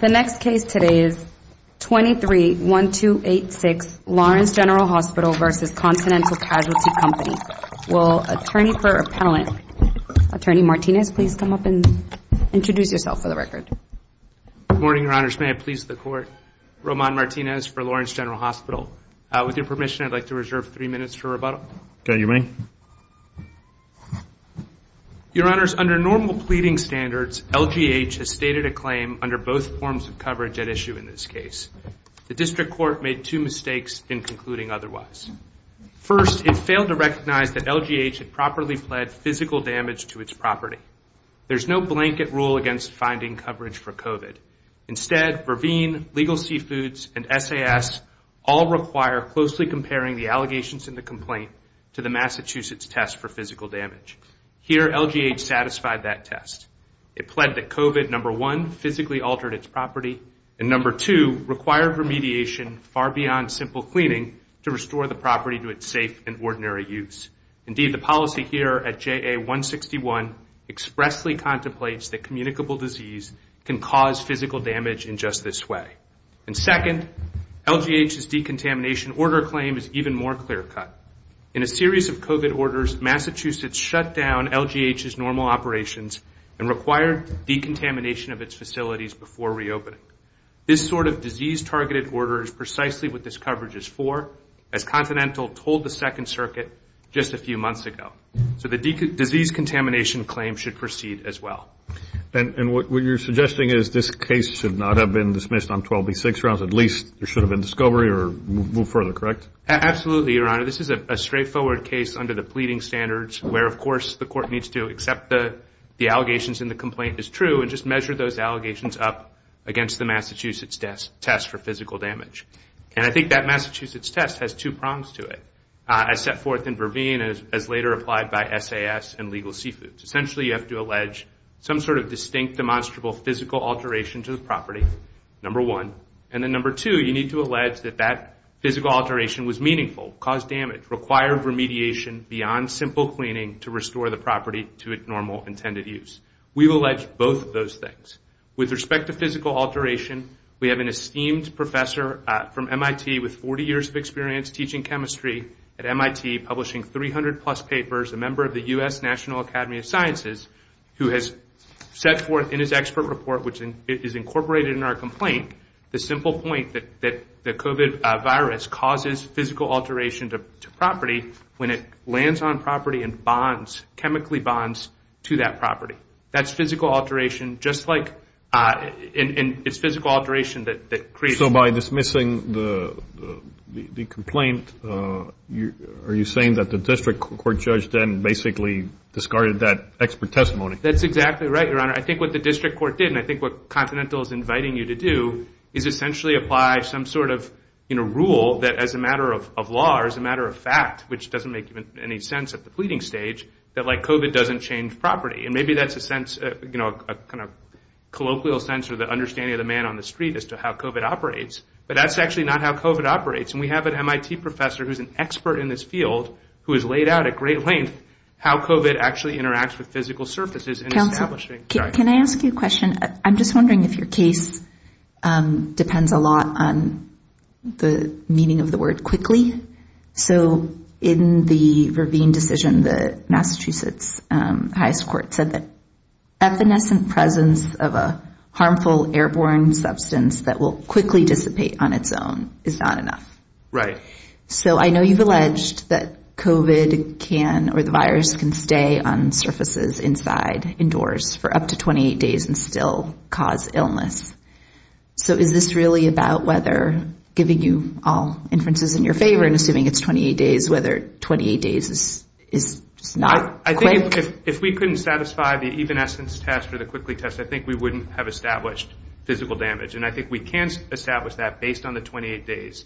The next case today is 23-1286 Lawrence General Hospital v. Continental Casualty Company. Will Attorney for Appellant, Attorney Martinez, please come up and introduce yourself for the record. Good morning, Your Honors. May it please the Court, Roman Martinez for Lawrence General Hospital. With your permission, I'd like to reserve three minutes for rebuttal. Okay, you may. Your Honors, under normal pleading standards, LGH has stated a claim under both forms of coverage at issue in this case. The District Court made two mistakes in concluding otherwise. First, it failed to recognize that LGH had properly pled physical damage to its property. There's no blanket rule against finding coverage for COVID. Instead, Verveen, Legal Seafoods, and SAS all require closely comparing the allegations in the complaint to the Massachusetts test for physical damage. Here, LGH satisfied that test. It pled that COVID, number one, physically altered its property, and number two, required remediation far beyond simple cleaning to restore the property to its safe and ordinary use. Indeed, the policy here at JA-161 expressly contemplates that communicable disease can cause physical damage in just this way. And second, LGH's decontamination order claim is even more clear-cut. In a series of COVID orders, Massachusetts shut down LGH's normal operations and required decontamination of its facilities before reopening. This sort of disease-targeted order is precisely what this coverage is for, as Continental told the Second Circuit just a few months ago. So the disease contamination claim should proceed as well. And what you're suggesting is this case should not have been dismissed on 12B6, or at least there should have been discovery or move further, correct? Absolutely, Your Honor. This is a straightforward case under the pleading standards where, of course, the court needs to accept the allegations in the complaint as true and just measure those allegations up against the Massachusetts test for physical damage. And I think that Massachusetts test has two prongs to it, as set forth in Verveen, as later applied by SAS and Legal Seafoods. Essentially, you have to allege some sort of distinct, demonstrable physical alteration to the property, number one, and then number two, you need to allege that that physical alteration was meaningful, caused damage, required remediation beyond simple cleaning to restore the property to its normal intended use. We will allege both of those things. With respect to physical alteration, we have an esteemed professor from MIT with 40 years of experience teaching chemistry at MIT, publishing 300-plus papers, a member of the U.S. National Academy of Sciences, who has set forth in his expert report, which is incorporated in our complaint, the simple point that the COVID virus causes physical alteration to property when it lands on property and bonds, chemically bonds, to that property. That's physical alteration, just like, and it's physical alteration that creates... So by dismissing the complaint, are you saying that the district court judge then basically discarded that expert testimony? That's exactly right, Your Honor. I think what the district court did, and I think what Continental is inviting you to do, is essentially apply some sort of rule that as a matter of law, as a matter of fact, which doesn't make any sense at the pleading stage, that COVID doesn't change property. And maybe that's a sense, a kind of colloquial sense or the understanding of the man on the street as to how COVID operates, but that's actually not how COVID operates. And we have an MIT professor who's an expert in this field who has laid out at great length how COVID actually interacts with physical surfaces in establishing... Counselor, can I ask you a question? I'm just wondering if your case depends a lot on the meaning of the word quickly. So in the Ravine decision, the Massachusetts highest court said that effervescent presence of a harmful airborne substance that will quickly dissipate on its own is not enough. Right. So I know you've alleged that COVID can, or the virus can stay on surfaces inside, indoors for up to 28 days and still cause illness. So is this really about whether giving you all inferences in your favor and assuming it's 28 days, whether 28 days is not quick? I think if we couldn't satisfy the even-essence test or the quickly test, I think we wouldn't have established physical damage. And I think we can establish that based on the 28 days.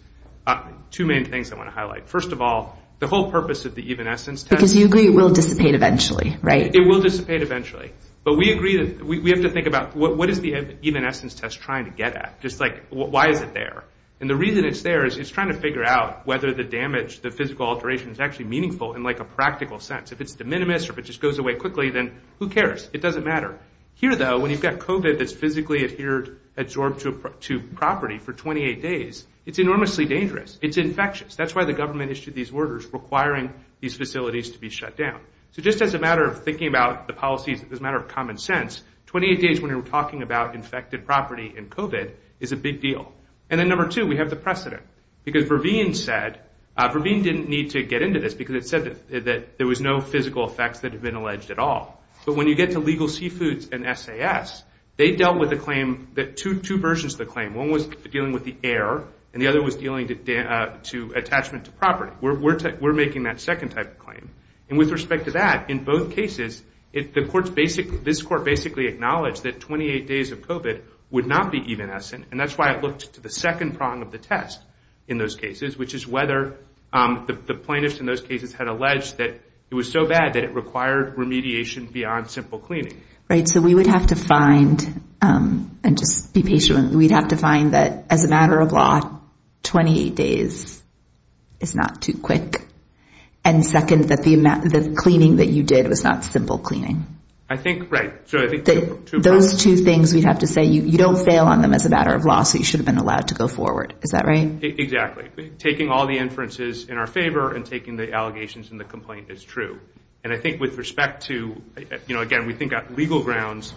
Two main things I want to highlight. First of all, the whole purpose of the even-essence test... Because you agree it will dissipate eventually, right? It will dissipate eventually. But we agree that we have to think about what is the even-essence test trying to get at? Just like, why is it there? And the reason it's there is it's trying to figure out whether the damage, the physical alteration is actually meaningful in like a practical sense. If it's de minimis or if it just goes away quickly, then who cares? It doesn't matter. Here though, when you've got COVID that's physically adhered, adsorbed to property for 28 days, it's enormously dangerous. It's infectious. That's why the government issued these orders requiring these facilities to be shut down. So just as a matter of thinking about the policies as a matter of common sense, 28 days when you're talking about infected property and COVID is a big deal. And then number two, we have the precedent. Because Verveen said, Verveen didn't need to get into this because it said that there was no physical effects that had been alleged at all. But when you get to Legal Seafoods and SAS, they dealt with the claim that two versions of the claim. One was dealing with the air and the other was dealing to attachment to property. We're making that second type of claim. And with respect to that, in both cases, the courts basically, this court basically acknowledged that 28 days of COVID would not be evanescent. And that's why it looked to the second prong of the test in those cases, which is whether the plaintiffs in those cases had alleged that it was so bad that it required remediation beyond simple cleaning. Right. So we would have to find, and just be patient, we'd have to find that as a matter of law, 28 days is not too quick. And second, that the amount of cleaning that you did was not simple cleaning. I think, right. Those two things we'd have to say, you don't fail on them as a matter of law, so you should have been allowed to go forward. Is that right? Exactly. Taking all the inferences in our favor and taking the allegations in the complaint is true. And I think with respect to, you know, again, we think legal grounds,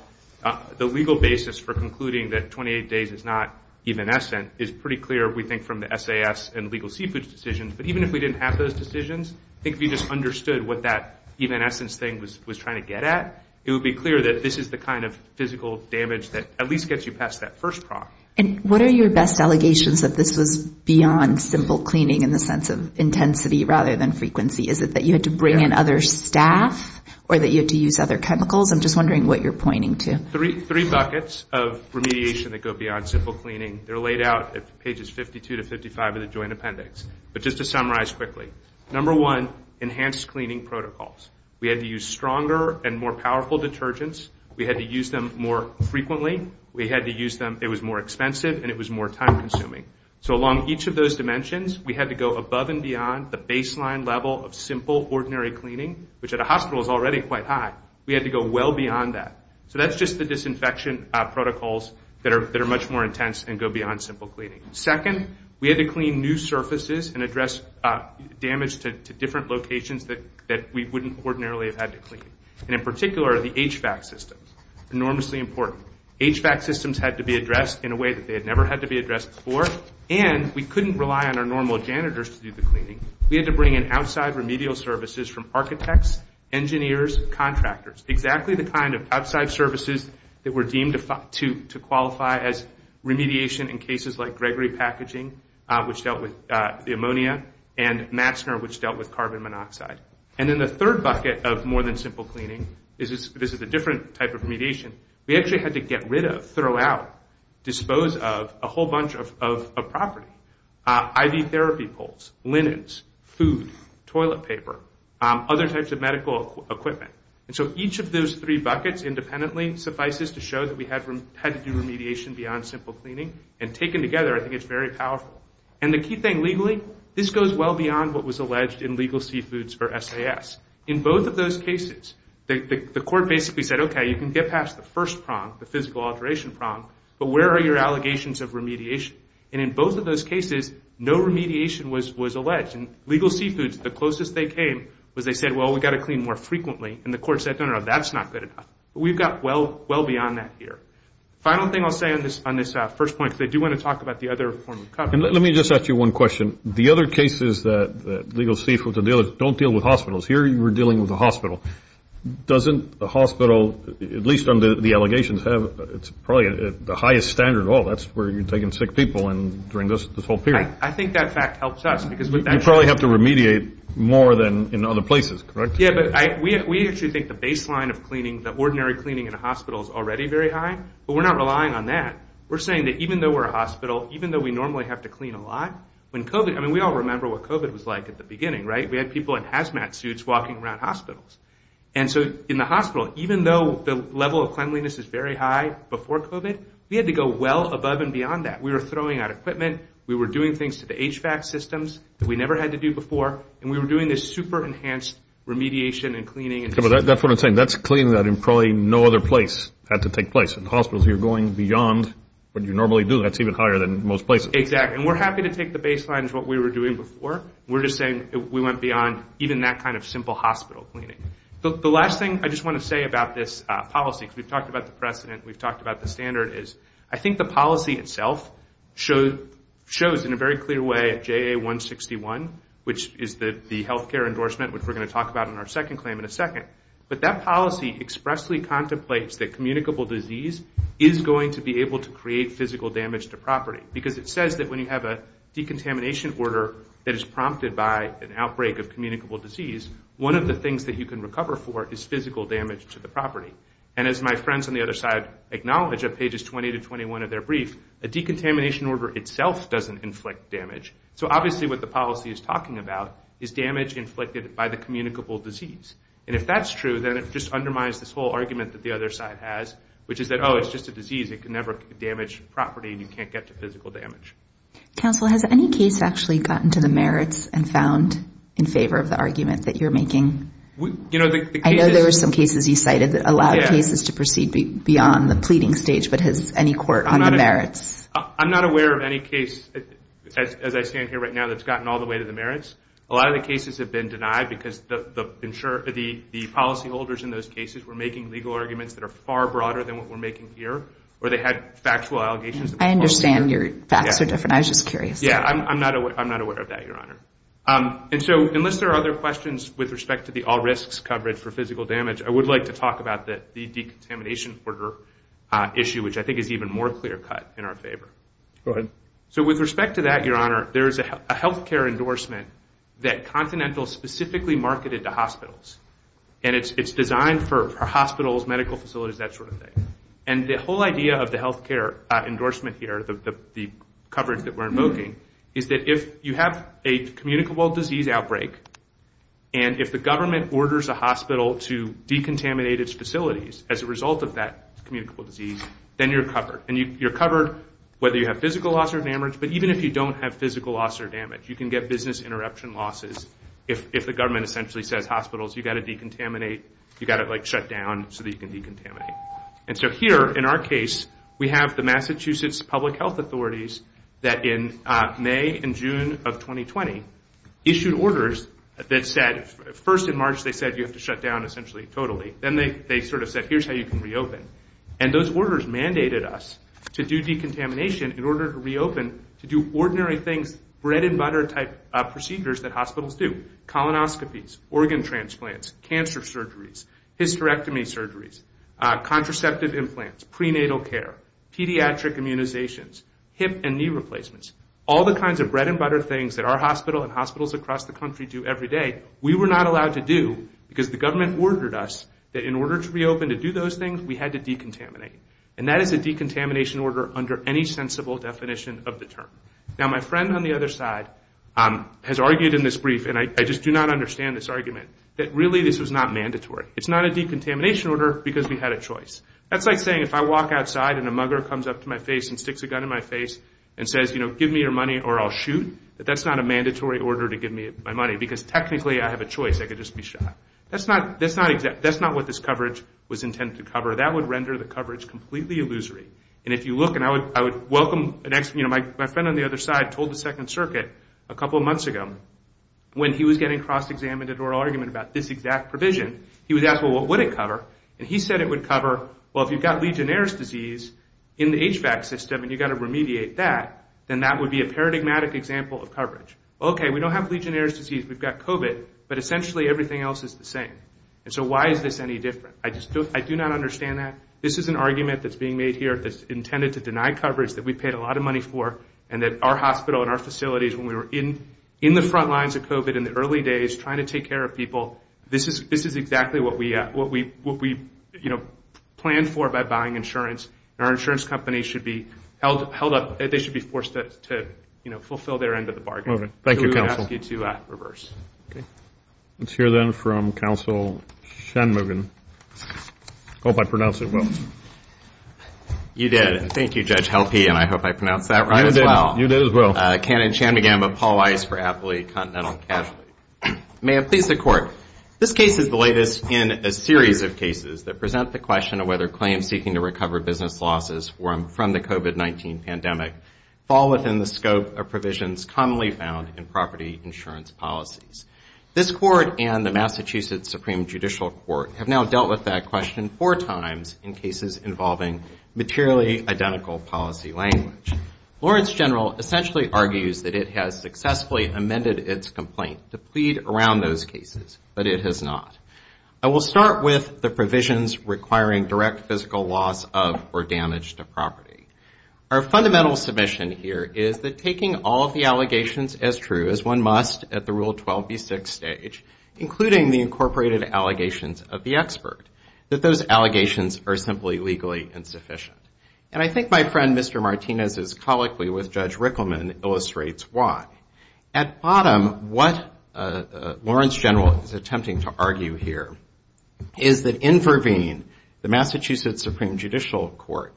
the legal basis for concluding that 28 days is not evanescent is pretty clear, we think, from the SAS and legal seafood decisions. But even if we didn't have those decisions, I think if you just understood what that evanescence thing was trying to get at, it would be clear that this is the kind of physical damage that at least gets you past that first prong. And what are your best allegations that this was beyond simple cleaning in the sense of intensity rather than frequency? Is it that you had to bring in other staff or that you had to use other chemicals? I'm just wondering what you're pointing to. Three buckets of remediation that go beyond simple cleaning. They're laid out at pages 52 to 55 of the joint appendix. But just to summarize quickly, number one, enhanced cleaning protocols. We had to use stronger and more powerful detergents. We had to use them more frequently. We had to use them, it was more expensive and it was more time consuming. So along each of those dimensions, we had to go above and beyond the baseline level of simple ordinary cleaning, which at a hospital is already quite high. We had to go well beyond that. So that's just the disinfection protocols that are much more intense and go beyond simple cleaning. Second, we had to clean new surfaces and address damage to different locations that we wouldn't ordinarily have had to clean. And in particular, the HVAC systems, enormously important. HVAC systems had to be addressed in a way that they had never had to be addressed before. And we couldn't rely on our normal janitors to do the cleaning. We had to bring in outside remedial services from architects, engineers, contractors. Exactly the kind of outside services that were deemed to qualify as remediation in cases like Gregory Packaging, which dealt with the ammonia, and Matzner, which dealt with carbon monoxide. And then the third bucket of more than simple cleaning, this is a different type of remediation, we actually had to get rid of, throw out, dispose of a whole bunch of property. IV therapy poles, linens, food, toilet paper, other types of medical equipment. And so each of those three buckets independently suffices to show that we had to do remediation beyond simple cleaning. And taken together, I think it's very powerful. And the key thing legally, this goes well beyond what was alleged in legal seafoods or SAS. In both of those cases, the court basically said, okay, you can get past the first prong, the physical alteration prong, but where are your allegations of remediation? And in both of those cases, no remediation was alleged. And legal seafoods, the closest they came was they said, well, we've got to clean more frequently. And the court said, no, no, no, that's not good enough. We've got well beyond that here. Final thing I'll say on this first point, because I do want to talk about the other form of coverage. And let me just ask you one question. The other cases that legal seafoods don't deal with hospitals, here you were dealing with a hospital. Doesn't a hospital, at least under the allegations, it's probably the highest standard at all. That's where you're taking sick people during this whole period. I think that fact helps us because we've actually... You probably have to remediate more than in other places, correct? Yeah, but we actually think the baseline of cleaning, the ordinary cleaning in a hospital is already very high, but we're not relying on that. We're saying that even though we're a hospital, even though we normally have to clean a lot, when COVID, I mean, we all remember what COVID was like at the beginning, right? We had people in hazmat suits walking around hospitals. And so in the hospital, even though the level of cleanliness is very high before COVID, we had to go well above and beyond that. We were throwing out equipment. We were doing things to the HVAC systems that we never had to do before. And we were doing this super enhanced remediation and cleaning. That's what I'm saying. That's cleaning that in probably no other place had to take place. In hospitals, you're going beyond what you normally do. That's even higher than most places. Exactly. And we're happy to take the baseline as what we were doing before. We're just saying we went beyond even that kind of simple hospital cleaning. The last thing I just want to say about this policy, because we've talked about the precedent, we've talked about the standard, is I think the policy itself shows in a very clear way JA-161, which is the healthcare endorsement, which we're going to talk about in our second claim in a second. But that policy expressly contemplates that communicable disease is going to be able to create physical damage to property. Because it says that when you have a decontamination order that is prompted by an outbreak of communicable disease, one of the things that you can recover for is physical damage to the property. And as my friends on the other side acknowledge at pages 20 to 21 of their brief, a decontamination order itself doesn't inflict damage. So obviously what the policy is talking about is damage inflicted by the communicable disease. And if that's true, then it just undermines this whole argument that the other side has, which is that, oh, it's just a disease. It can never damage property and you can't get to physical damage. Counsel, has any case actually gotten to the merits and found in favor of the argument that you're making? I know there were some cases you cited that allowed cases to proceed beyond the pleading stage, but has any court on the merits? I'm not aware of any case, as I stand here right now, that's gotten all the way to the merits. A lot of the cases have been denied because the policyholders in those cases were making legal arguments that are far broader than what we're making here. Or they had factual allegations. I understand your facts are different. I was just curious. Yeah, I'm not aware of that, Your Honor. And so, unless there are other questions with respect to the all risks coverage for physical damage, I would like to talk about the decontamination order issue, which I think is even more clear-cut in our favor. Go ahead. So with respect to that, Your Honor, there is a health care endorsement that Continental specifically marketed to hospitals. And it's designed for hospitals, medical facilities, that sort of thing. And the whole idea of the health care endorsement here, the coverage that we're invoking, is that if you have a communicable disease outbreak, and if the government orders a hospital to decontaminate its facilities as a result of that communicable disease, then you're covered. And you're covered whether you have physical loss or damage. But even if you don't have physical loss or damage, you can get business interruption losses if the government essentially says, hospitals, you've got to decontaminate. You've got to shut down so that you can decontaminate. And so here, in our case, we have the Massachusetts Public Health Authorities that in May and June of 2020 issued orders that said, first in March they said, you have to shut down essentially totally. Then they sort of said, here's how you can reopen. And those orders mandated us to do decontamination in order to reopen, to do ordinary things, bread and butter type procedures that hospitals do. Colonoscopies, organ transplants, cancer surgeries, hysterectomy surgeries, contraceptive implants, prenatal care, pediatric immunizations, hip and knee replacements, all the kinds of bread and butter things that our hospital and hospitals across the country do every day, we were not allowed to do because the government ordered us that in order to reopen to do those things, we had to decontaminate. And that is a decontamination order under any sensible definition of the term. Now, my friend on the other side has argued in this brief, and I just do not understand this argument, that really this was not mandatory. It's not a decontamination order because we had a choice. That's like saying if I walk outside and a mugger comes up to my face and sticks a gun in my face and says, give me your money or I'll shoot, that that's not a mandatory order to give me my money because technically I have a choice. I could just be shot. That's not what this coverage was intended to cover. That would render the coverage completely illusory. And if you look, and I would welcome, my friend on the other side told the Second Circuit a couple of months ago when he was getting cross-examined at oral argument about this exact provision, he was asked, well, what would it cover? And he said it would cover, well, if you've got Legionnaire's disease in the HVAC system and you've got to remediate that, then that would be a paradigmatic example of coverage. Okay, we don't have Legionnaire's disease. We've got COVID, but essentially everything else is the same. And so why is this any different? I do not understand that. This is an argument that's being made here that's intended to deny coverage that we paid a lot of money for and that our hospital and our facilities, when we were in the front lines of COVID in the early days, trying to take care of people, this is exactly what we planned for by buying insurance. Our insurance companies should be held up, they should be forced to fulfill their end of the bargain. Thank you, counsel. We would ask you to reverse. Let's hear then from counsel Shanmugam. Hope I pronounced it well. You did, thank you, Judge Helpe, and I hope I pronounced that right as well. You did as well. Canon Shanmugam of Paul Weiss for Appley Continental Casualty. May it please the court. This case is the latest in a series of cases that present the question of whether claims seeking to recover business losses from the COVID-19 pandemic fall within the scope of provisions commonly found in property insurance policies. This court and the Massachusetts Supreme Judicial Court have now dealt with that question four times in cases involving materially identical policy language. Lawrence General essentially argues that it has successfully amended its complaint to plead around those cases, but it has not. I will start with the provisions requiring direct physical loss of or damage to property. Our fundamental submission here is that taking all of the allegations as true as one must at the Rule 12b-6 stage, including the incorporated allegations of the expert, that those allegations are simply legally insufficient. And I think my friend Mr. Martinez's colloquy with Judge Rickleman illustrates why. At bottom, what Lawrence General is attempting to argue here is that in Verveen, the Massachusetts Supreme Judicial Court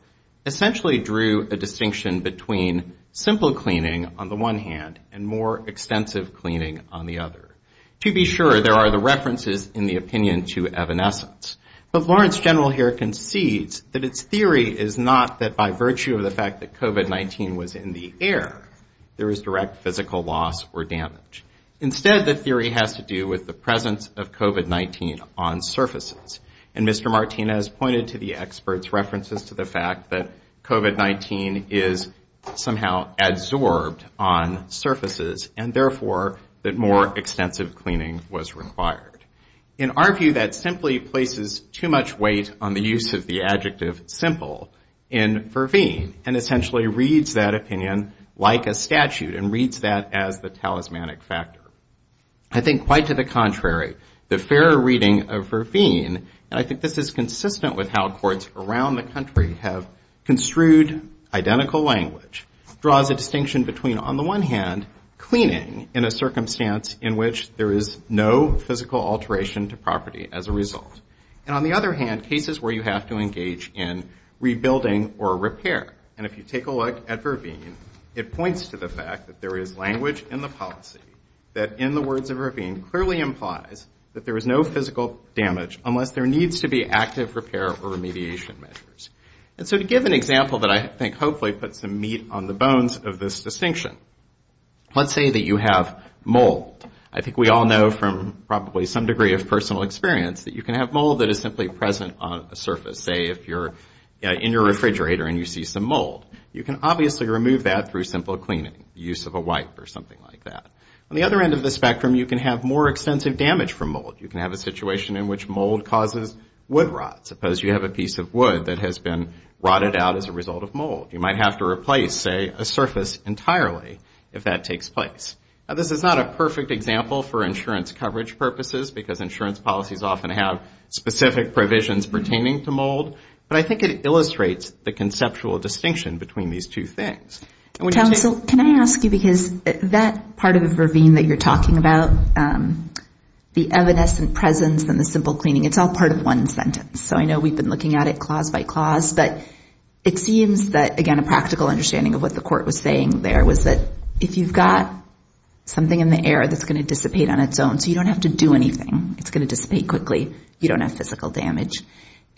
essentially drew a distinction between simple cleaning on the one hand and more extensive cleaning on the other. To be sure, there are the references in the opinion to evanescence. But Lawrence General here concedes that its theory is not that by virtue of the fact that COVID-19 was in the air, there is direct physical loss or damage. Instead, the theory has to do with the presence of COVID-19 on surfaces. And Mr. Martinez pointed to the expert's references to the fact that COVID-19 is somehow adsorbed on surfaces and therefore that more extensive cleaning was required. In our view, that simply places too much weight on the use of the adjective simple in Verveen and essentially reads that opinion like a statute and reads that as the talismanic factor. I think quite to the contrary, the fair reading of Verveen, and I think this is consistent with how courts around the country have construed identical language, draws a distinction between on the one hand, cleaning in a circumstance in which there is no physical alteration to property as a result. And on the other hand, cases where you have to engage in rebuilding or repair. And if you take a look at Verveen, it points to the fact that there is language in the policy that in the words of Verveen clearly implies that there is no physical damage unless there needs to be active repair or remediation measures. And so to give an example that I think hopefully puts some meat on the bones of this distinction, let's say that you have mold. I think we all know from probably some degree of personal experience that you can have mold that is simply present on a surface. Say, if you're in your refrigerator and you see some mold, you can obviously remove that through simple cleaning, use of a wipe or something like that. On the other end of the spectrum, you can have more extensive damage from mold. You can have a situation in which mold causes wood rot. Suppose you have a piece of wood that has been rotted out as a result of mold. You might have to replace, say, a surface entirely if that takes place. Now this is not a perfect example for insurance coverage purposes because insurance policies often have specific provisions pertaining to mold, but I think it illustrates the conceptual distinction between these two things. And when you take- Council, can I ask you because that part of the ravine that you're talking about, the evanescent presence and the simple cleaning, it's all part of one sentence. So I know we've been looking at it clause by clause, but it seems that, again, a practical understanding of what the court was saying there was that if you've got something in the air that's gonna dissipate on its own, so you don't have to do anything, it's gonna dissipate quickly, you don't have physical damage.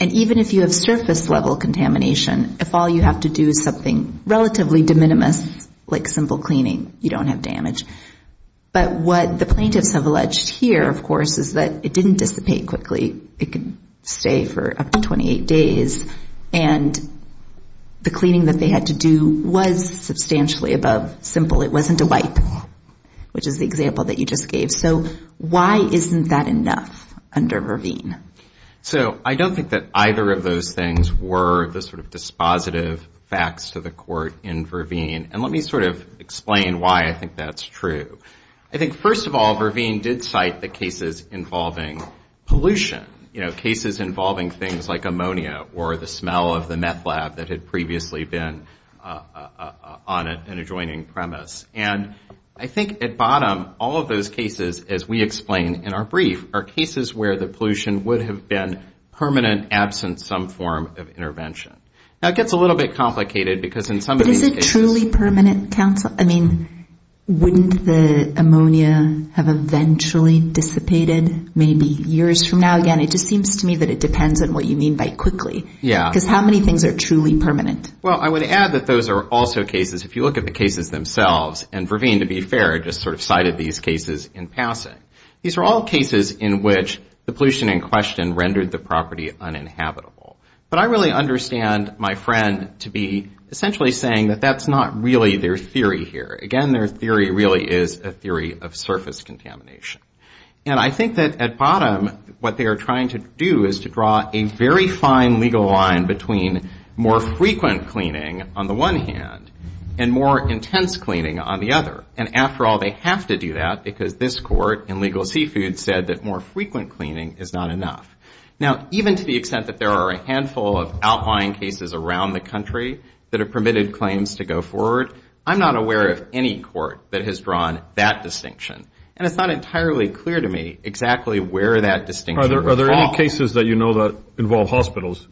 And even if you have surface-level contamination, if all you have to do is something relatively de minimis, like simple cleaning, you don't have damage. But what the plaintiffs have alleged here, of course, is that it didn't dissipate quickly. It could stay for up to 28 days. And the cleaning that they had to do was substantially above simple. It wasn't a wipe, which is the example that you just gave. So why isn't that enough under Verveen? So I don't think that either of those things were the sort of dispositive facts to the court in Verveen. And let me sort of explain why I think that's true. I think, first of all, Verveen did cite the cases involving pollution, cases involving things like ammonia or the smell of the meth lab that had previously been on an adjoining premise. And I think at bottom, all of those cases, as we explained in our brief, are cases where the pollution would have been permanent, absent some form of intervention. Now, it gets a little bit complicated because in some of these cases- But is it truly permanent, counsel? I mean, wouldn't the ammonia have eventually dissipated maybe years from now? Again, it just seems to me that it depends on what you mean by quickly. Yeah. Because how many things are truly permanent? Well, I would add that those are also cases, if you look at the cases themselves, and Verveen, to be fair, just sort of cited these cases in passing. These are all cases in which the pollution in question rendered the property uninhabitable. But I really understand my friend to be essentially saying that that's not really their theory here. Again, their theory really is a theory of surface contamination. And I think that at bottom, what they are trying to do is to draw a very fine legal line between more frequent cleaning on the one hand and more intense cleaning on the other. And after all, they have to do that because this court in legal seafood said that more frequent cleaning is not enough. Now, even to the extent that there are a handful of outlying cases around the country that have permitted claims to go forward, I'm not aware of any court that has drawn that distinction. And it's not entirely clear to me exactly where that distinction would fall. Are there any cases that you know that involve hospitals?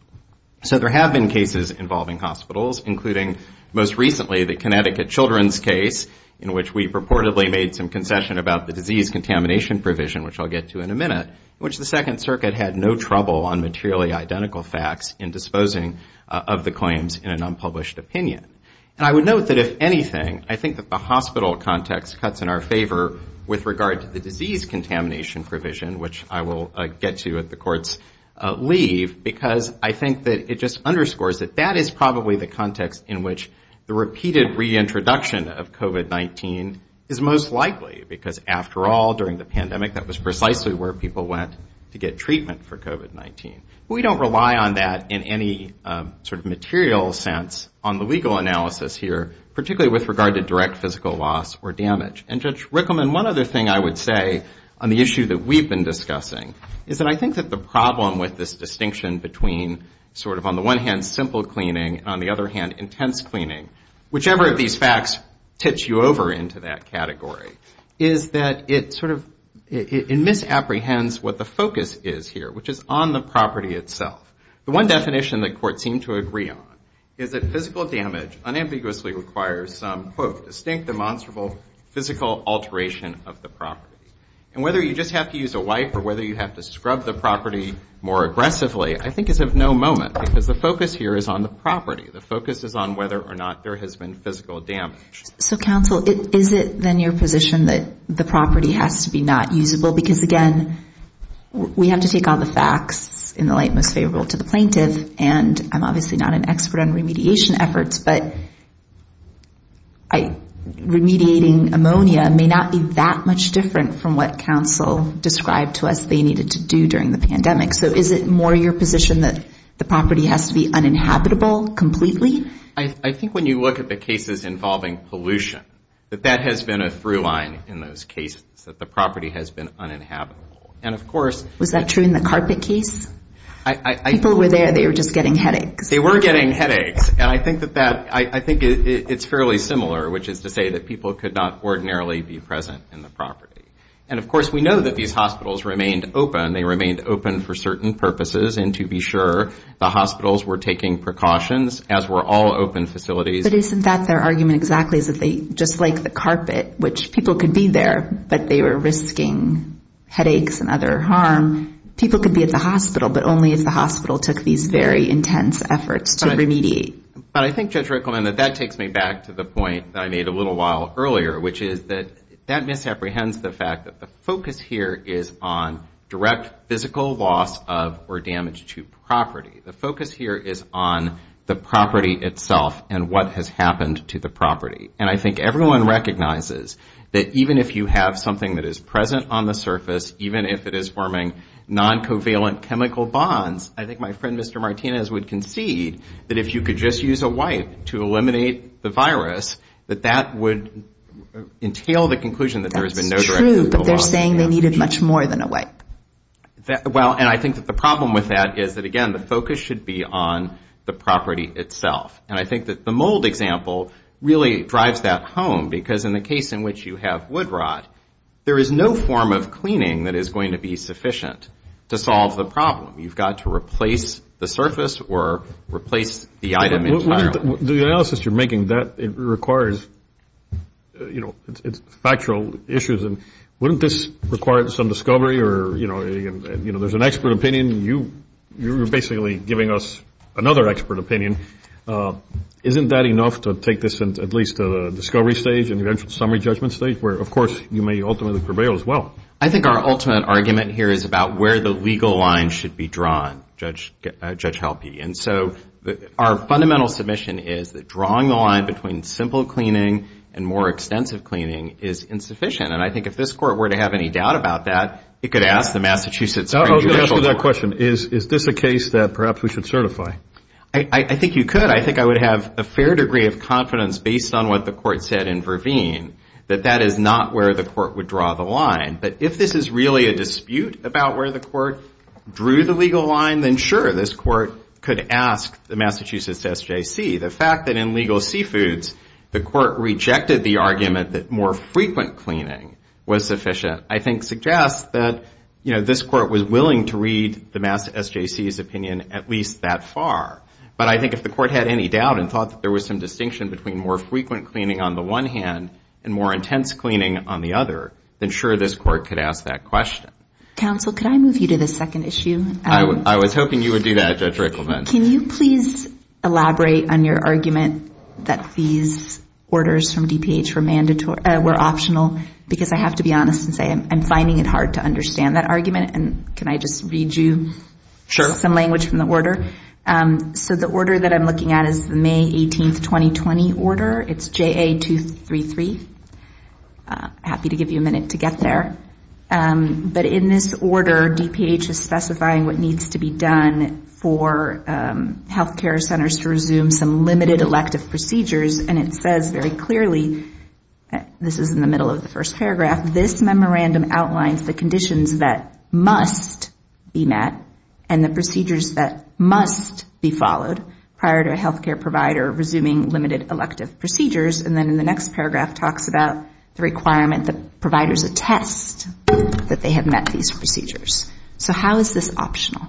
So there have been cases involving hospitals, including most recently the Connecticut children's case in which we purportedly made some concession about the disease contamination provision, which I'll get to in a minute, which the Second Circuit had no trouble on materially identical facts in disposing of the claims in an unpublished opinion. And I would note that if anything, I think that the hospital context cuts in our favor with regard to the disease contamination provision, which I will get to at the court's leave, because I think that it just underscores that that is probably the context in which the repeated reintroduction of COVID-19 is most likely, because after all, during the pandemic, that was precisely where people went to get treatment for COVID-19. We don't rely on that in any sort of material sense on the legal analysis here, particularly with regard to direct physical loss or damage. And Judge Rickleman, one other thing I would say on the issue that we've been discussing is that I think that the problem with this distinction between sort of on the one hand, simple cleaning, on the other hand, intense cleaning, whichever of these facts tips you over into that category is that it sort of, it misapprehends what the focus is here, which is on the property itself. The one definition that courts seem to agree on is that physical damage unambiguously requires some, quote, distinct demonstrable physical alteration of the property. And whether you just have to use a wipe or whether you have to scrub the property more aggressively I think is of no moment, because the focus here is on the property. The focus is on whether or not there has been physical damage. So counsel, is it then your position that the property has to be not usable? Because again, we have to take all the facts in the light most favorable to the plaintiff. And I'm obviously not an expert on remediation efforts, but remediating ammonia may not be that much different from what counsel described to us they needed to do during the pandemic. So is it more your position that the property has to be uninhabitable completely? I think when you look at the cases involving pollution, that that has been a through line in those cases, that the property has been uninhabitable. And of course- Was that true in the carpet case? I- People were there, they were just getting headaches. They were getting headaches. And I think that that, I think it's fairly similar, which is to say that people could not ordinarily be present in the property. And of course, we know that these hospitals remained open. They remained open for certain purposes. And to be sure, the hospitals were taking precautions as were all open facilities. But isn't that their argument exactly, is that they, just like the carpet, which people could be there, but they were risking headaches and other harm. People could be at the hospital, but only if the hospital took these very intense efforts to remediate. But I think Judge Rickleman that that takes me back to the point that I made a little while earlier, which is that that misapprehends the fact that the focus here is on direct physical loss of, or damage to property. The focus here is on the property itself and what has happened to the property. And I think everyone recognizes that even if you have something that is present on the surface, even if it is forming non-covalent chemical bonds, I think my friend Mr. Martinez would concede that if you could just use a wipe to eliminate the virus, that that would entail the conclusion that there has been no direct physical loss of energy. That's true, but they're saying they needed much more than a wipe. Well, and I think that the problem with that is that again, the focus should be on the property itself. And I think that the mold example really drives that home because in the case in which you have wood rot, there is no form of cleaning that is going to be sufficient to solve the problem. You've got to replace the surface or replace the item entirely. The analysis you're making that it requires, it's factual issues. And wouldn't this require some discovery or there's an expert opinion, you're basically giving us another expert opinion. Isn't that enough to take this into at least a discovery stage and eventual summary judgment stage where of course you may ultimately prevail as well? I think our ultimate argument here is about where the legal line should be drawn, Judge Halpe. And so our fundamental submission is that drawing the line between simple cleaning and more extensive cleaning is insufficient. And I think if this court were to have any doubt about that, it could ask the Massachusetts Supreme Judicial Court. I was going to ask you that question. Is this a case that perhaps we should certify? I think you could. I think I would have a fair degree of confidence based on what the court said in Verveen that that is not where the court would draw the line. But if this is really a dispute about where the court drew the legal line, then sure, this court could ask the Massachusetts SJC. The fact that in legal seafoods, the court rejected the argument that more frequent cleaning was sufficient, I think suggests that this court was willing to read the Massachusetts SJC's opinion at least that far. But I think if the court had any doubt and thought that there was some distinction between more frequent cleaning on the one hand and more intense cleaning on the other, then sure, this court could ask that question. Counsel, could I move you to the second issue? I was hoping you would do that, Judge Rickleman. Can you please elaborate on your argument that these orders from DPH were optional? Because I have to be honest and say I'm finding it hard to understand that argument. And can I just read you some language from the order? So the order that I'm looking at is May 18th, 2020 order. It's JA-233. Happy to give you a minute to get there. But in this order, DPH is specifying what needs to be done for healthcare centers to resume some limited elective procedures. And it says very clearly, this is in the middle of the first paragraph, this memorandum outlines the conditions that must be met and the procedures that must be followed prior to a healthcare provider resuming limited elective procedures. And then in the next paragraph, talks about the requirement that providers attest that they have met these procedures. So how is this optional?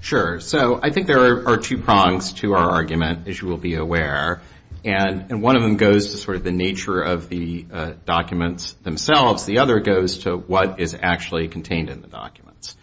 Sure, so I think there are two prongs to our argument, as you will be aware. And one of them goes to sort of the nature of the documents themselves. The other goes to what is actually contained in the documents.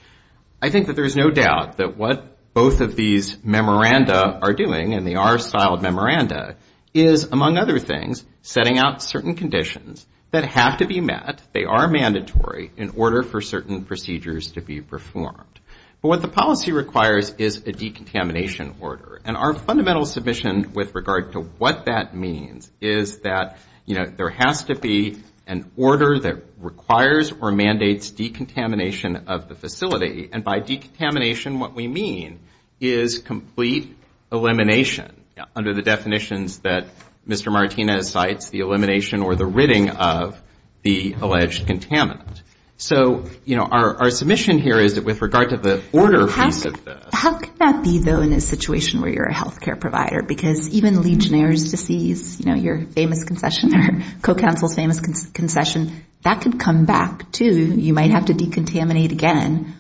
I think that there's no doubt that what both of these memoranda are doing and they are styled memoranda, is among other things, setting out certain conditions that have to be met, they are mandatory, in order for certain procedures to be performed. But what the policy requires is a decontamination order. And our fundamental submission with regard to what that means is that there has to be an order that requires or mandates decontamination of the facility. And by decontamination, what we mean is complete elimination under the definitions that Mr. Martinez cites, the elimination or the ridding of the alleged contaminant. So our submission here is that with regard to the order piece of this. How can that be though in a situation where you're a healthcare provider? Because even Legionnaire's disease, your famous concession, co-counsel's famous concession, that could come back too. You might have to decontaminate again.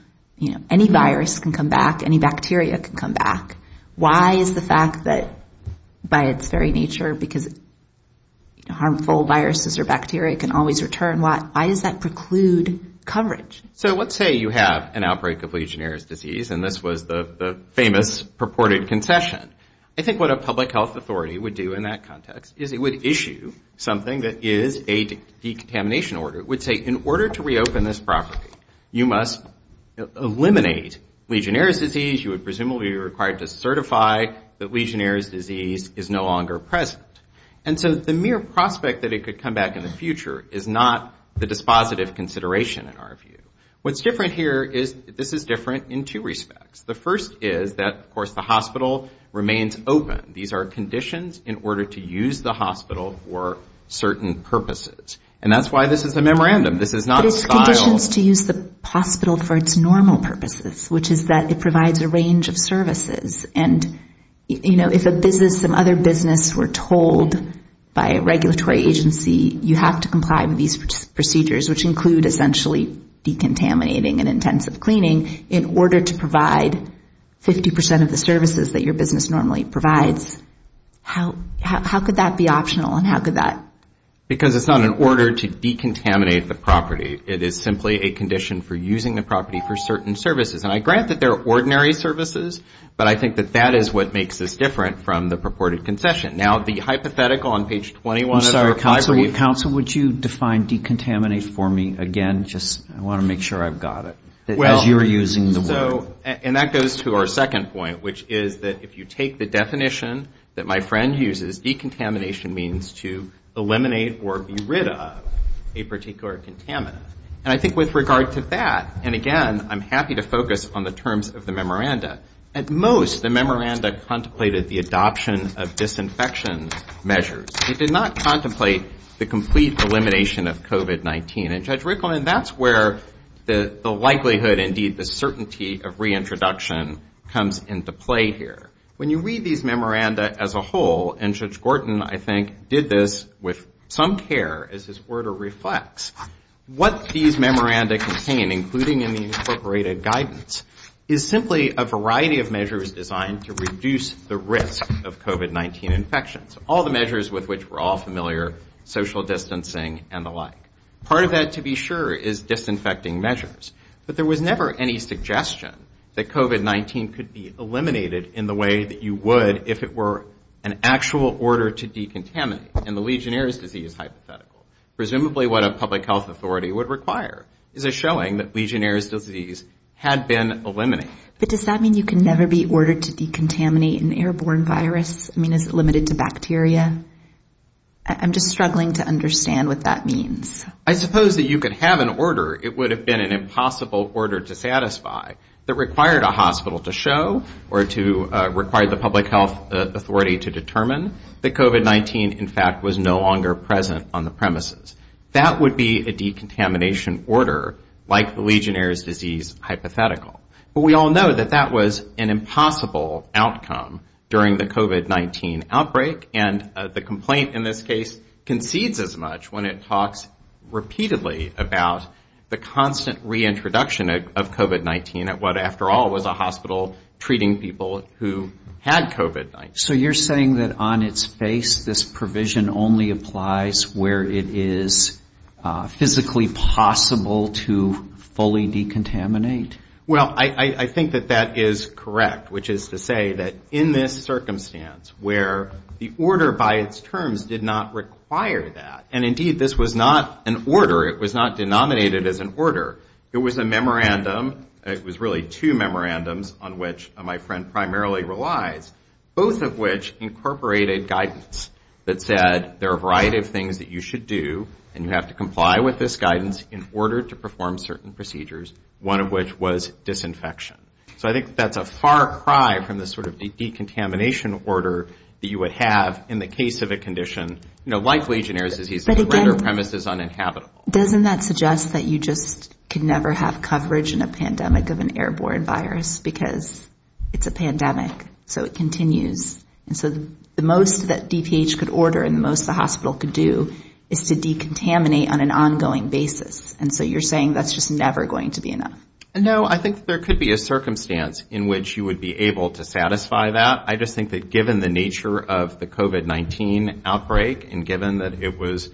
Any virus can come back, any bacteria can come back. Why is the fact that by its very nature, because harmful viruses or bacteria can always return, why does that preclude coverage? So let's say you have an outbreak of Legionnaire's disease and this was the famous purported concession. I think what a public health authority would do in that context is it would issue something that is a decontamination order. It would say in order to reopen this property, you must eliminate Legionnaire's disease, you would presumably be required to certify that Legionnaire's disease is no longer present. And so the mere prospect that it could come back in the future is not the dispositive consideration in our view. What's different here is this is different in two respects. The first is that of course the hospital remains open. These are conditions in order to use the hospital for certain purposes. And that's why this is a memorandum. This is not a style. But it's conditions to use the hospital for its normal purposes, which is that it provides a range of services. And if a business, some other business were told by a regulatory agency, you have to comply with these procedures, which include essentially decontaminating and intensive cleaning, in order to provide 50% of the services that your business normally provides. How could that be optional and how could that? Because it's not an order to decontaminate the property. It is simply a condition for using the property for certain services. And I grant that they're ordinary services, but I think that that is what makes us different from the purported concession. Now the hypothetical on page 21 of the reply brief. Counsel, would you define decontaminate for me again? Just, I want to make sure I've got it. As you're using the word. And that goes to our second point, which is that if you take the definition that my friend uses, decontamination means to eliminate or be rid of a particular contaminant. And I think with regard to that, and again, I'm happy to focus on the terms of the memoranda. At most, the memoranda contemplated the adoption of disinfection measures. It did not contemplate the complete elimination of COVID-19. And Judge Rickleman, that's where the likelihood, indeed the certainty of reintroduction comes into play here. When you read these memoranda as a whole, and Judge Gorton, I think, did this with some care as his order reflects, what these memoranda contain, including in the incorporated guidance, is simply a variety of measures designed to reduce the risk of COVID-19 infections. All the measures with which we're all familiar, social distancing, and the like. Part of that, to be sure, is disinfecting measures. But there was never any suggestion that COVID-19 could be eliminated in the way that you would if it were an actual order to decontaminate, in the Legionnaires' disease hypothetical. Presumably what a public health authority would require is a showing that Legionnaires' disease had been eliminated. But does that mean you can never be ordered to decontaminate an airborne virus? I mean, is it limited to bacteria? I'm just struggling to understand what that means. I suppose that you could have an order. It would have been an impossible order to satisfy that required a hospital to show or to require the public health authority to determine that COVID-19 in fact was no longer present on the premises. That would be a decontamination order like the Legionnaires' disease hypothetical. But we all know that that was an impossible outcome during the COVID-19 outbreak. And the complaint in this case concedes as much when it talks repeatedly about the constant reintroduction of COVID-19 at what after all was a hospital treating people who had COVID-19. So you're saying that on its face, this provision only applies where it is physically possible to fully decontaminate? Well, I think that that is correct, which is to say that in this circumstance where the order by its terms did not require that. And indeed, this was not an order. It was not denominated as an order. It was a memorandum. It was really two memorandums on which my friend primarily relies. Both of which incorporated guidance that said there are a variety of things that you should do and you have to comply with this guidance in order to perform certain procedures, one of which was disinfection. So I think that's a far cry from the sort of decontamination order that you would have in the case of a condition like Legionnaires' disease that would render premises uninhabitable. Doesn't that suggest that you just could never have coverage in a pandemic of an airborne virus because it's a pandemic. So it continues. And so the most that DTH could order and the most the hospital could do is to decontaminate on an ongoing basis. And so you're saying that's just never going to be enough. No, I think that there could be a circumstance in which you would be able to satisfy that. I just think that given the nature of the COVID-19 outbreak and given that it was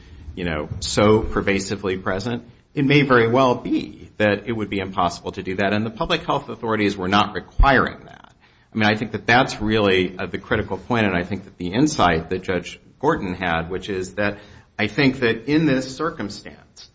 so pervasively present, it may very well be that it would be impossible to do that. And the public health authorities were not requiring that. I mean, I think that that's really the critical point. And I think that the insight that Judge Gordon had, which is that I think that in this circumstance,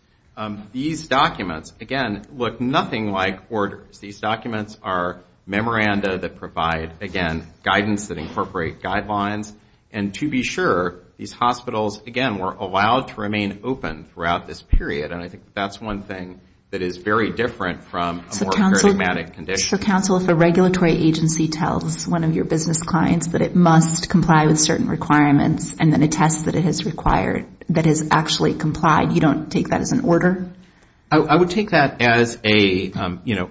these documents, again, look nothing like orders. These documents are memoranda that provide, again, guidance that incorporate guidelines. And to be sure, these hospitals, again, were allowed to remain open throughout this period. And I think that that's one thing that is very different from a more paradigmatic condition. Mr. Counsel, if a regulatory agency tells one of your business clients that it must comply with certain requirements and then attests that it has actually complied, you don't take that as an order? I would take that as a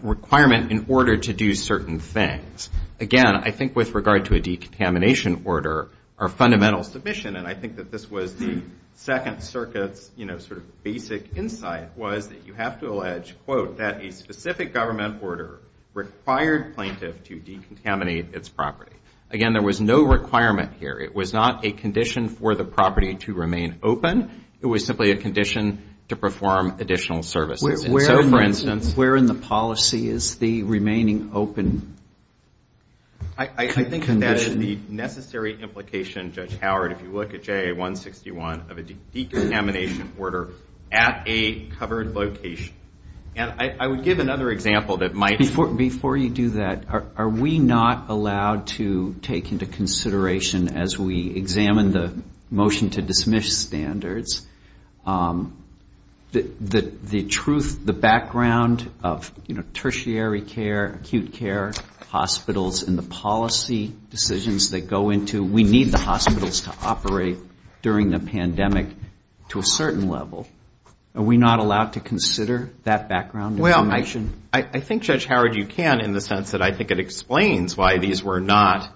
requirement in order to do certain things. Again, I think with regard to a decontamination order, our fundamental submission, and I think that this was the Second Circuit's sort of basic insight, was that you have to allege, quote, that a specific government order required plaintiff to decontaminate its property. Again, there was no requirement here. It was not a condition for the property to remain open. It was simply a condition to perform additional services. And so, for instance- Where in the policy is the remaining open condition? I think that is the necessary implication, Judge Howard, if you look at JA-161, of a decontamination order at a covered location. And I would give another example that might- Before you do that, are we not allowed to take into consideration as we examine the motion to dismiss standards, that the truth, the background of tertiary care, acute care, hospitals, and the policy decisions that go into, we need the hospitals to operate during the pandemic to a certain level. Are we not allowed to consider that background information? I think, Judge Howard, you can in the sense that I think it explains why these were not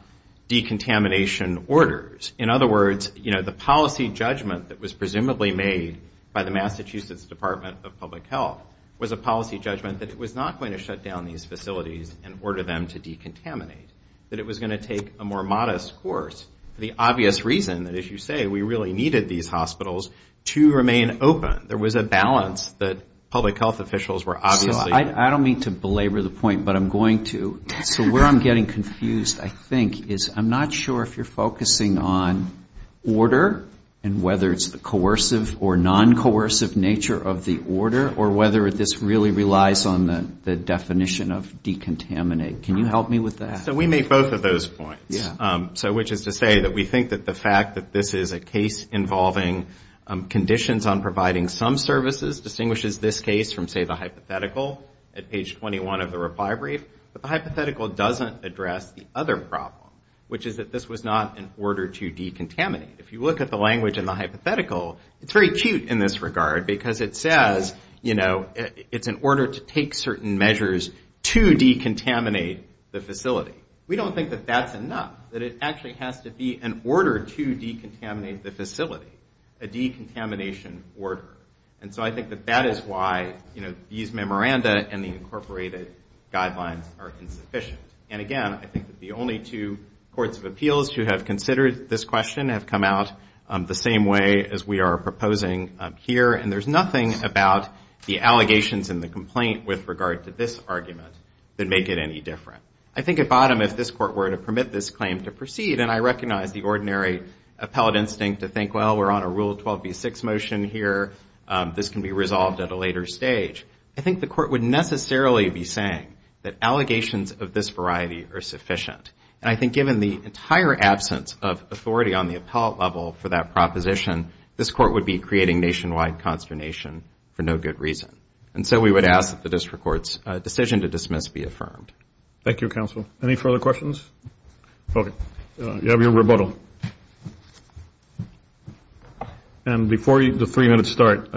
decontamination orders. In other words, the policy judgment that was presumably made by the Massachusetts Department of Public Health was a policy judgment that it was not going to shut down these facilities and order them to decontaminate, that it was going to take a more modest course for the obvious reason that, as you say, we really needed these hospitals to remain open. There was a balance that public health officials were obviously- I don't mean to belabor the point, but I'm going to. So where I'm getting confused, I think, is I'm not sure if you're focusing on order and whether it's the coercive or non-coercive nature of the order, or whether this really relies on the definition of decontaminate. Can you help me with that? So we make both of those points, which is to say that we think that the fact that this is a case involving conditions on providing some services distinguishes this case from, say, the hypothetical at page 21 of the reply brief, but the hypothetical doesn't address the other problem, which is that this was not an order to decontaminate. If you look at the language in the hypothetical, it's very cute in this regard, because it says it's an order to take certain measures to decontaminate the facility. We don't think that that's enough, that it actually has to be an order to decontaminate the facility, a decontamination order. And so I think that that is why these memoranda and the incorporated guidelines are insufficient. And again, I think that the only two courts of appeals who have considered this question have come out the same way as we are proposing here, and there's nothing about the allegations and the complaint with regard to this argument that make it any different. I think at bottom, if this court were to permit this claim to proceed, and I recognize the ordinary appellate instinct to think, well, we're on a Rule 12b6 motion here, this can be resolved at a later stage. I think the court would necessarily be saying that allegations of this variety are sufficient. And I think given the entire absence of authority on the appellate level for that proposition, this court would be creating nationwide consternation for no good reason. And so we would ask that the district court's decision to dismiss be affirmed. Thank you, counsel. Any further questions? Okay, you have your rebuttal. And before the three-minute start,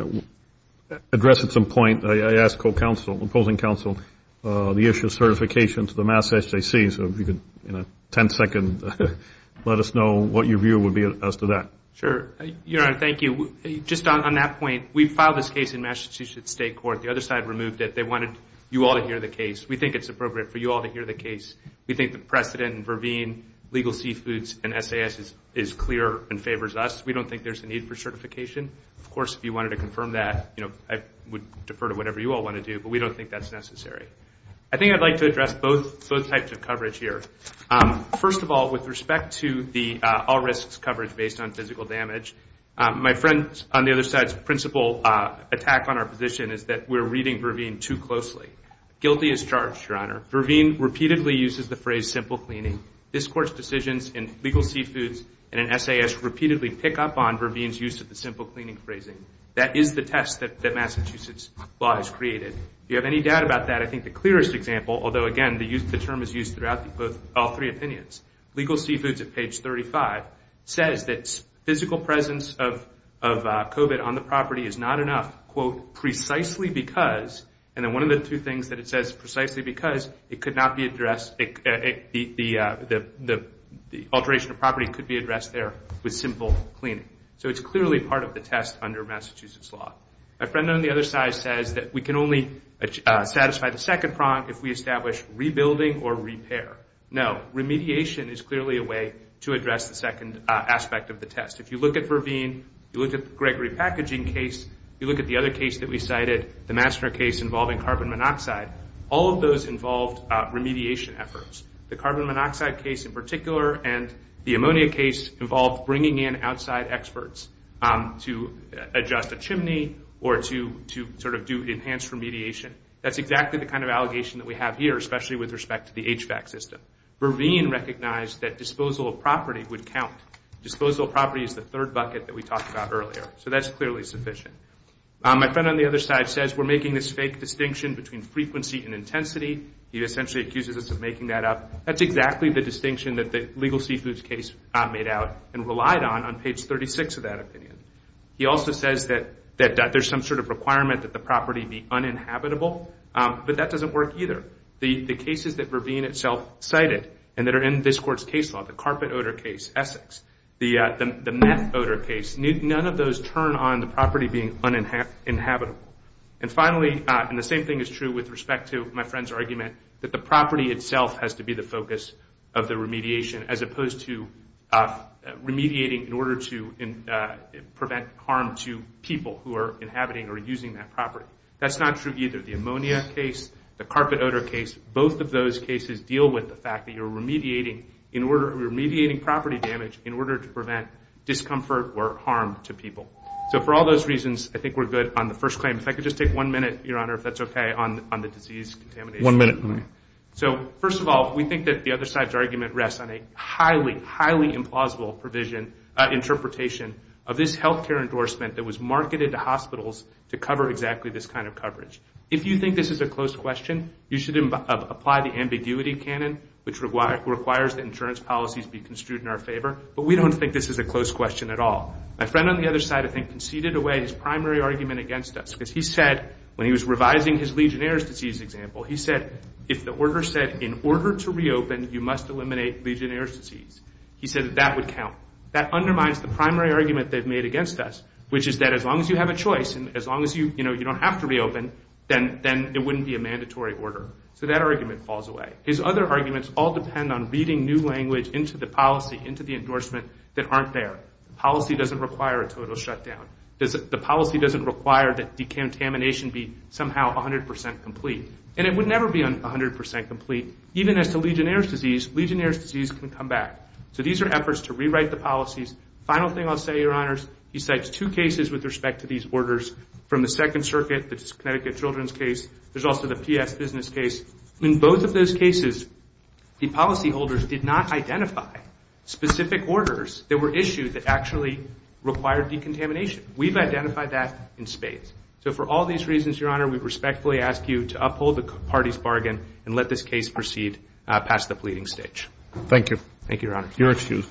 address at some point, I asked co-counsel, opposing counsel, the issue of certification to the Massachusetts JCCC, so if you could, in a 10-second, let us know what your view would be as to that. Sure, Your Honor, thank you. Just on that point, we filed this case in Massachusetts State Court. The other side removed it. They wanted you all to hear the case. We think it's appropriate for you all to hear the case. We think the precedent in Verveen, legal seafoods, and SAS is clear and favors us. We don't think there's a need for certification. Of course, if you wanted to confirm that, I would defer to whatever you all want to do, but we don't think that's necessary. I think I'd like to address both types of coverage here. First of all, with respect to the all risks coverage based on physical damage, my friend on the other side's principal attack on our position is that we're reading Verveen too closely. Guilty as charged, Your Honor. Verveen repeatedly uses the phrase simple cleaning. This Court's decisions in legal seafoods and in SAS repeatedly pick up on Verveen's use of the simple cleaning phrasing. That is the test that Massachusetts law has created. If you have any doubt about that, I think the clearest example, although again, the term is used throughout all three opinions. Legal seafoods at page 35 says that physical presence of COVID on the property is not enough, quote, precisely because, and then one of the two things that it says, precisely because, it could not be addressed, the alteration of property could be addressed there with simple cleaning. So it's clearly part of the test under Massachusetts law. My friend on the other side says that we can only satisfy the second prong if we establish rebuilding or repair. No, remediation is clearly a way to address the second aspect of the test. If you look at Verveen, you look at the Gregory packaging case, you look at the other case that we cited, the Mastner case involving carbon monoxide, all of those involved remediation efforts. The carbon monoxide case in particular and the ammonia case involved bringing in outside experts to adjust a chimney or to sort of do enhanced remediation. That's exactly the kind of allegation that we have here, especially with respect to the HVAC system. Verveen recognized that disposal of property would count. Disposal of property is the third bucket that we talked about earlier. So that's clearly sufficient. My friend on the other side says we're making this fake distinction between frequency and intensity. He essentially accuses us of making that up. That's exactly the distinction that the legal seafoods case made out and relied on on page 36 of that opinion. He also says that there's some sort of requirement that the property be uninhabitable, but that doesn't work either. The cases that Verveen itself cited and that are in this court's case law, the carpet odor case, Essex, the meth odor case, none of those turn on the property being uninhabitable. And finally, and the same thing is true with respect to my friend's argument, that the property itself has to be the focus of the remediation as opposed to remediating in order to prevent harm to people who are inhabiting or using that property. That's not true either. The ammonia case, the carpet odor case, both of those cases deal with the fact that you're remediating property damage in order to prevent discomfort or harm to people. So for all those reasons, I think we're good on the first claim. If I could just take one minute, Your Honor, if that's okay, on the disease contamination. One minute. So first of all, we think that the other side's argument rests on a highly, highly implausible provision, interpretation of this healthcare endorsement that was marketed to hospitals to cover exactly this kind of coverage. If you think this is a close question, you should apply the ambiguity canon, which requires that insurance policies be construed in our favor, but we don't think this is a close question at all. My friend on the other side, I think, conceded away his primary argument against us because he said, when he was revising his Legionnaire's disease example, he said, if the order said, in order to reopen, you must eliminate Legionnaire's disease, he said that that would count. That undermines the primary argument they've made against us, which is that as long as you have a choice and as long as you don't have to reopen, then it wouldn't be a mandatory order. So that argument falls away. His other arguments all depend on reading new language into the policy, into the endorsement, that aren't there. Policy doesn't require a total shutdown. The policy doesn't require that decontamination be somehow 100% complete. And it would never be 100% complete. Even as to Legionnaire's disease, Legionnaire's disease can come back. So these are efforts to rewrite the policies. Final thing I'll say, your honors, he cites two cases with respect to these orders, from the Second Circuit, the Connecticut Children's case, there's also the PS Business case. In both of those cases, the policyholders did not identify specific orders that were issued that actually required decontamination. We've identified that in spades. So for all these reasons, your honor, we respectfully ask you to uphold the party's bargain and let this case proceed past the pleading stage. Thank you. Thank you, your honor. Your excuse.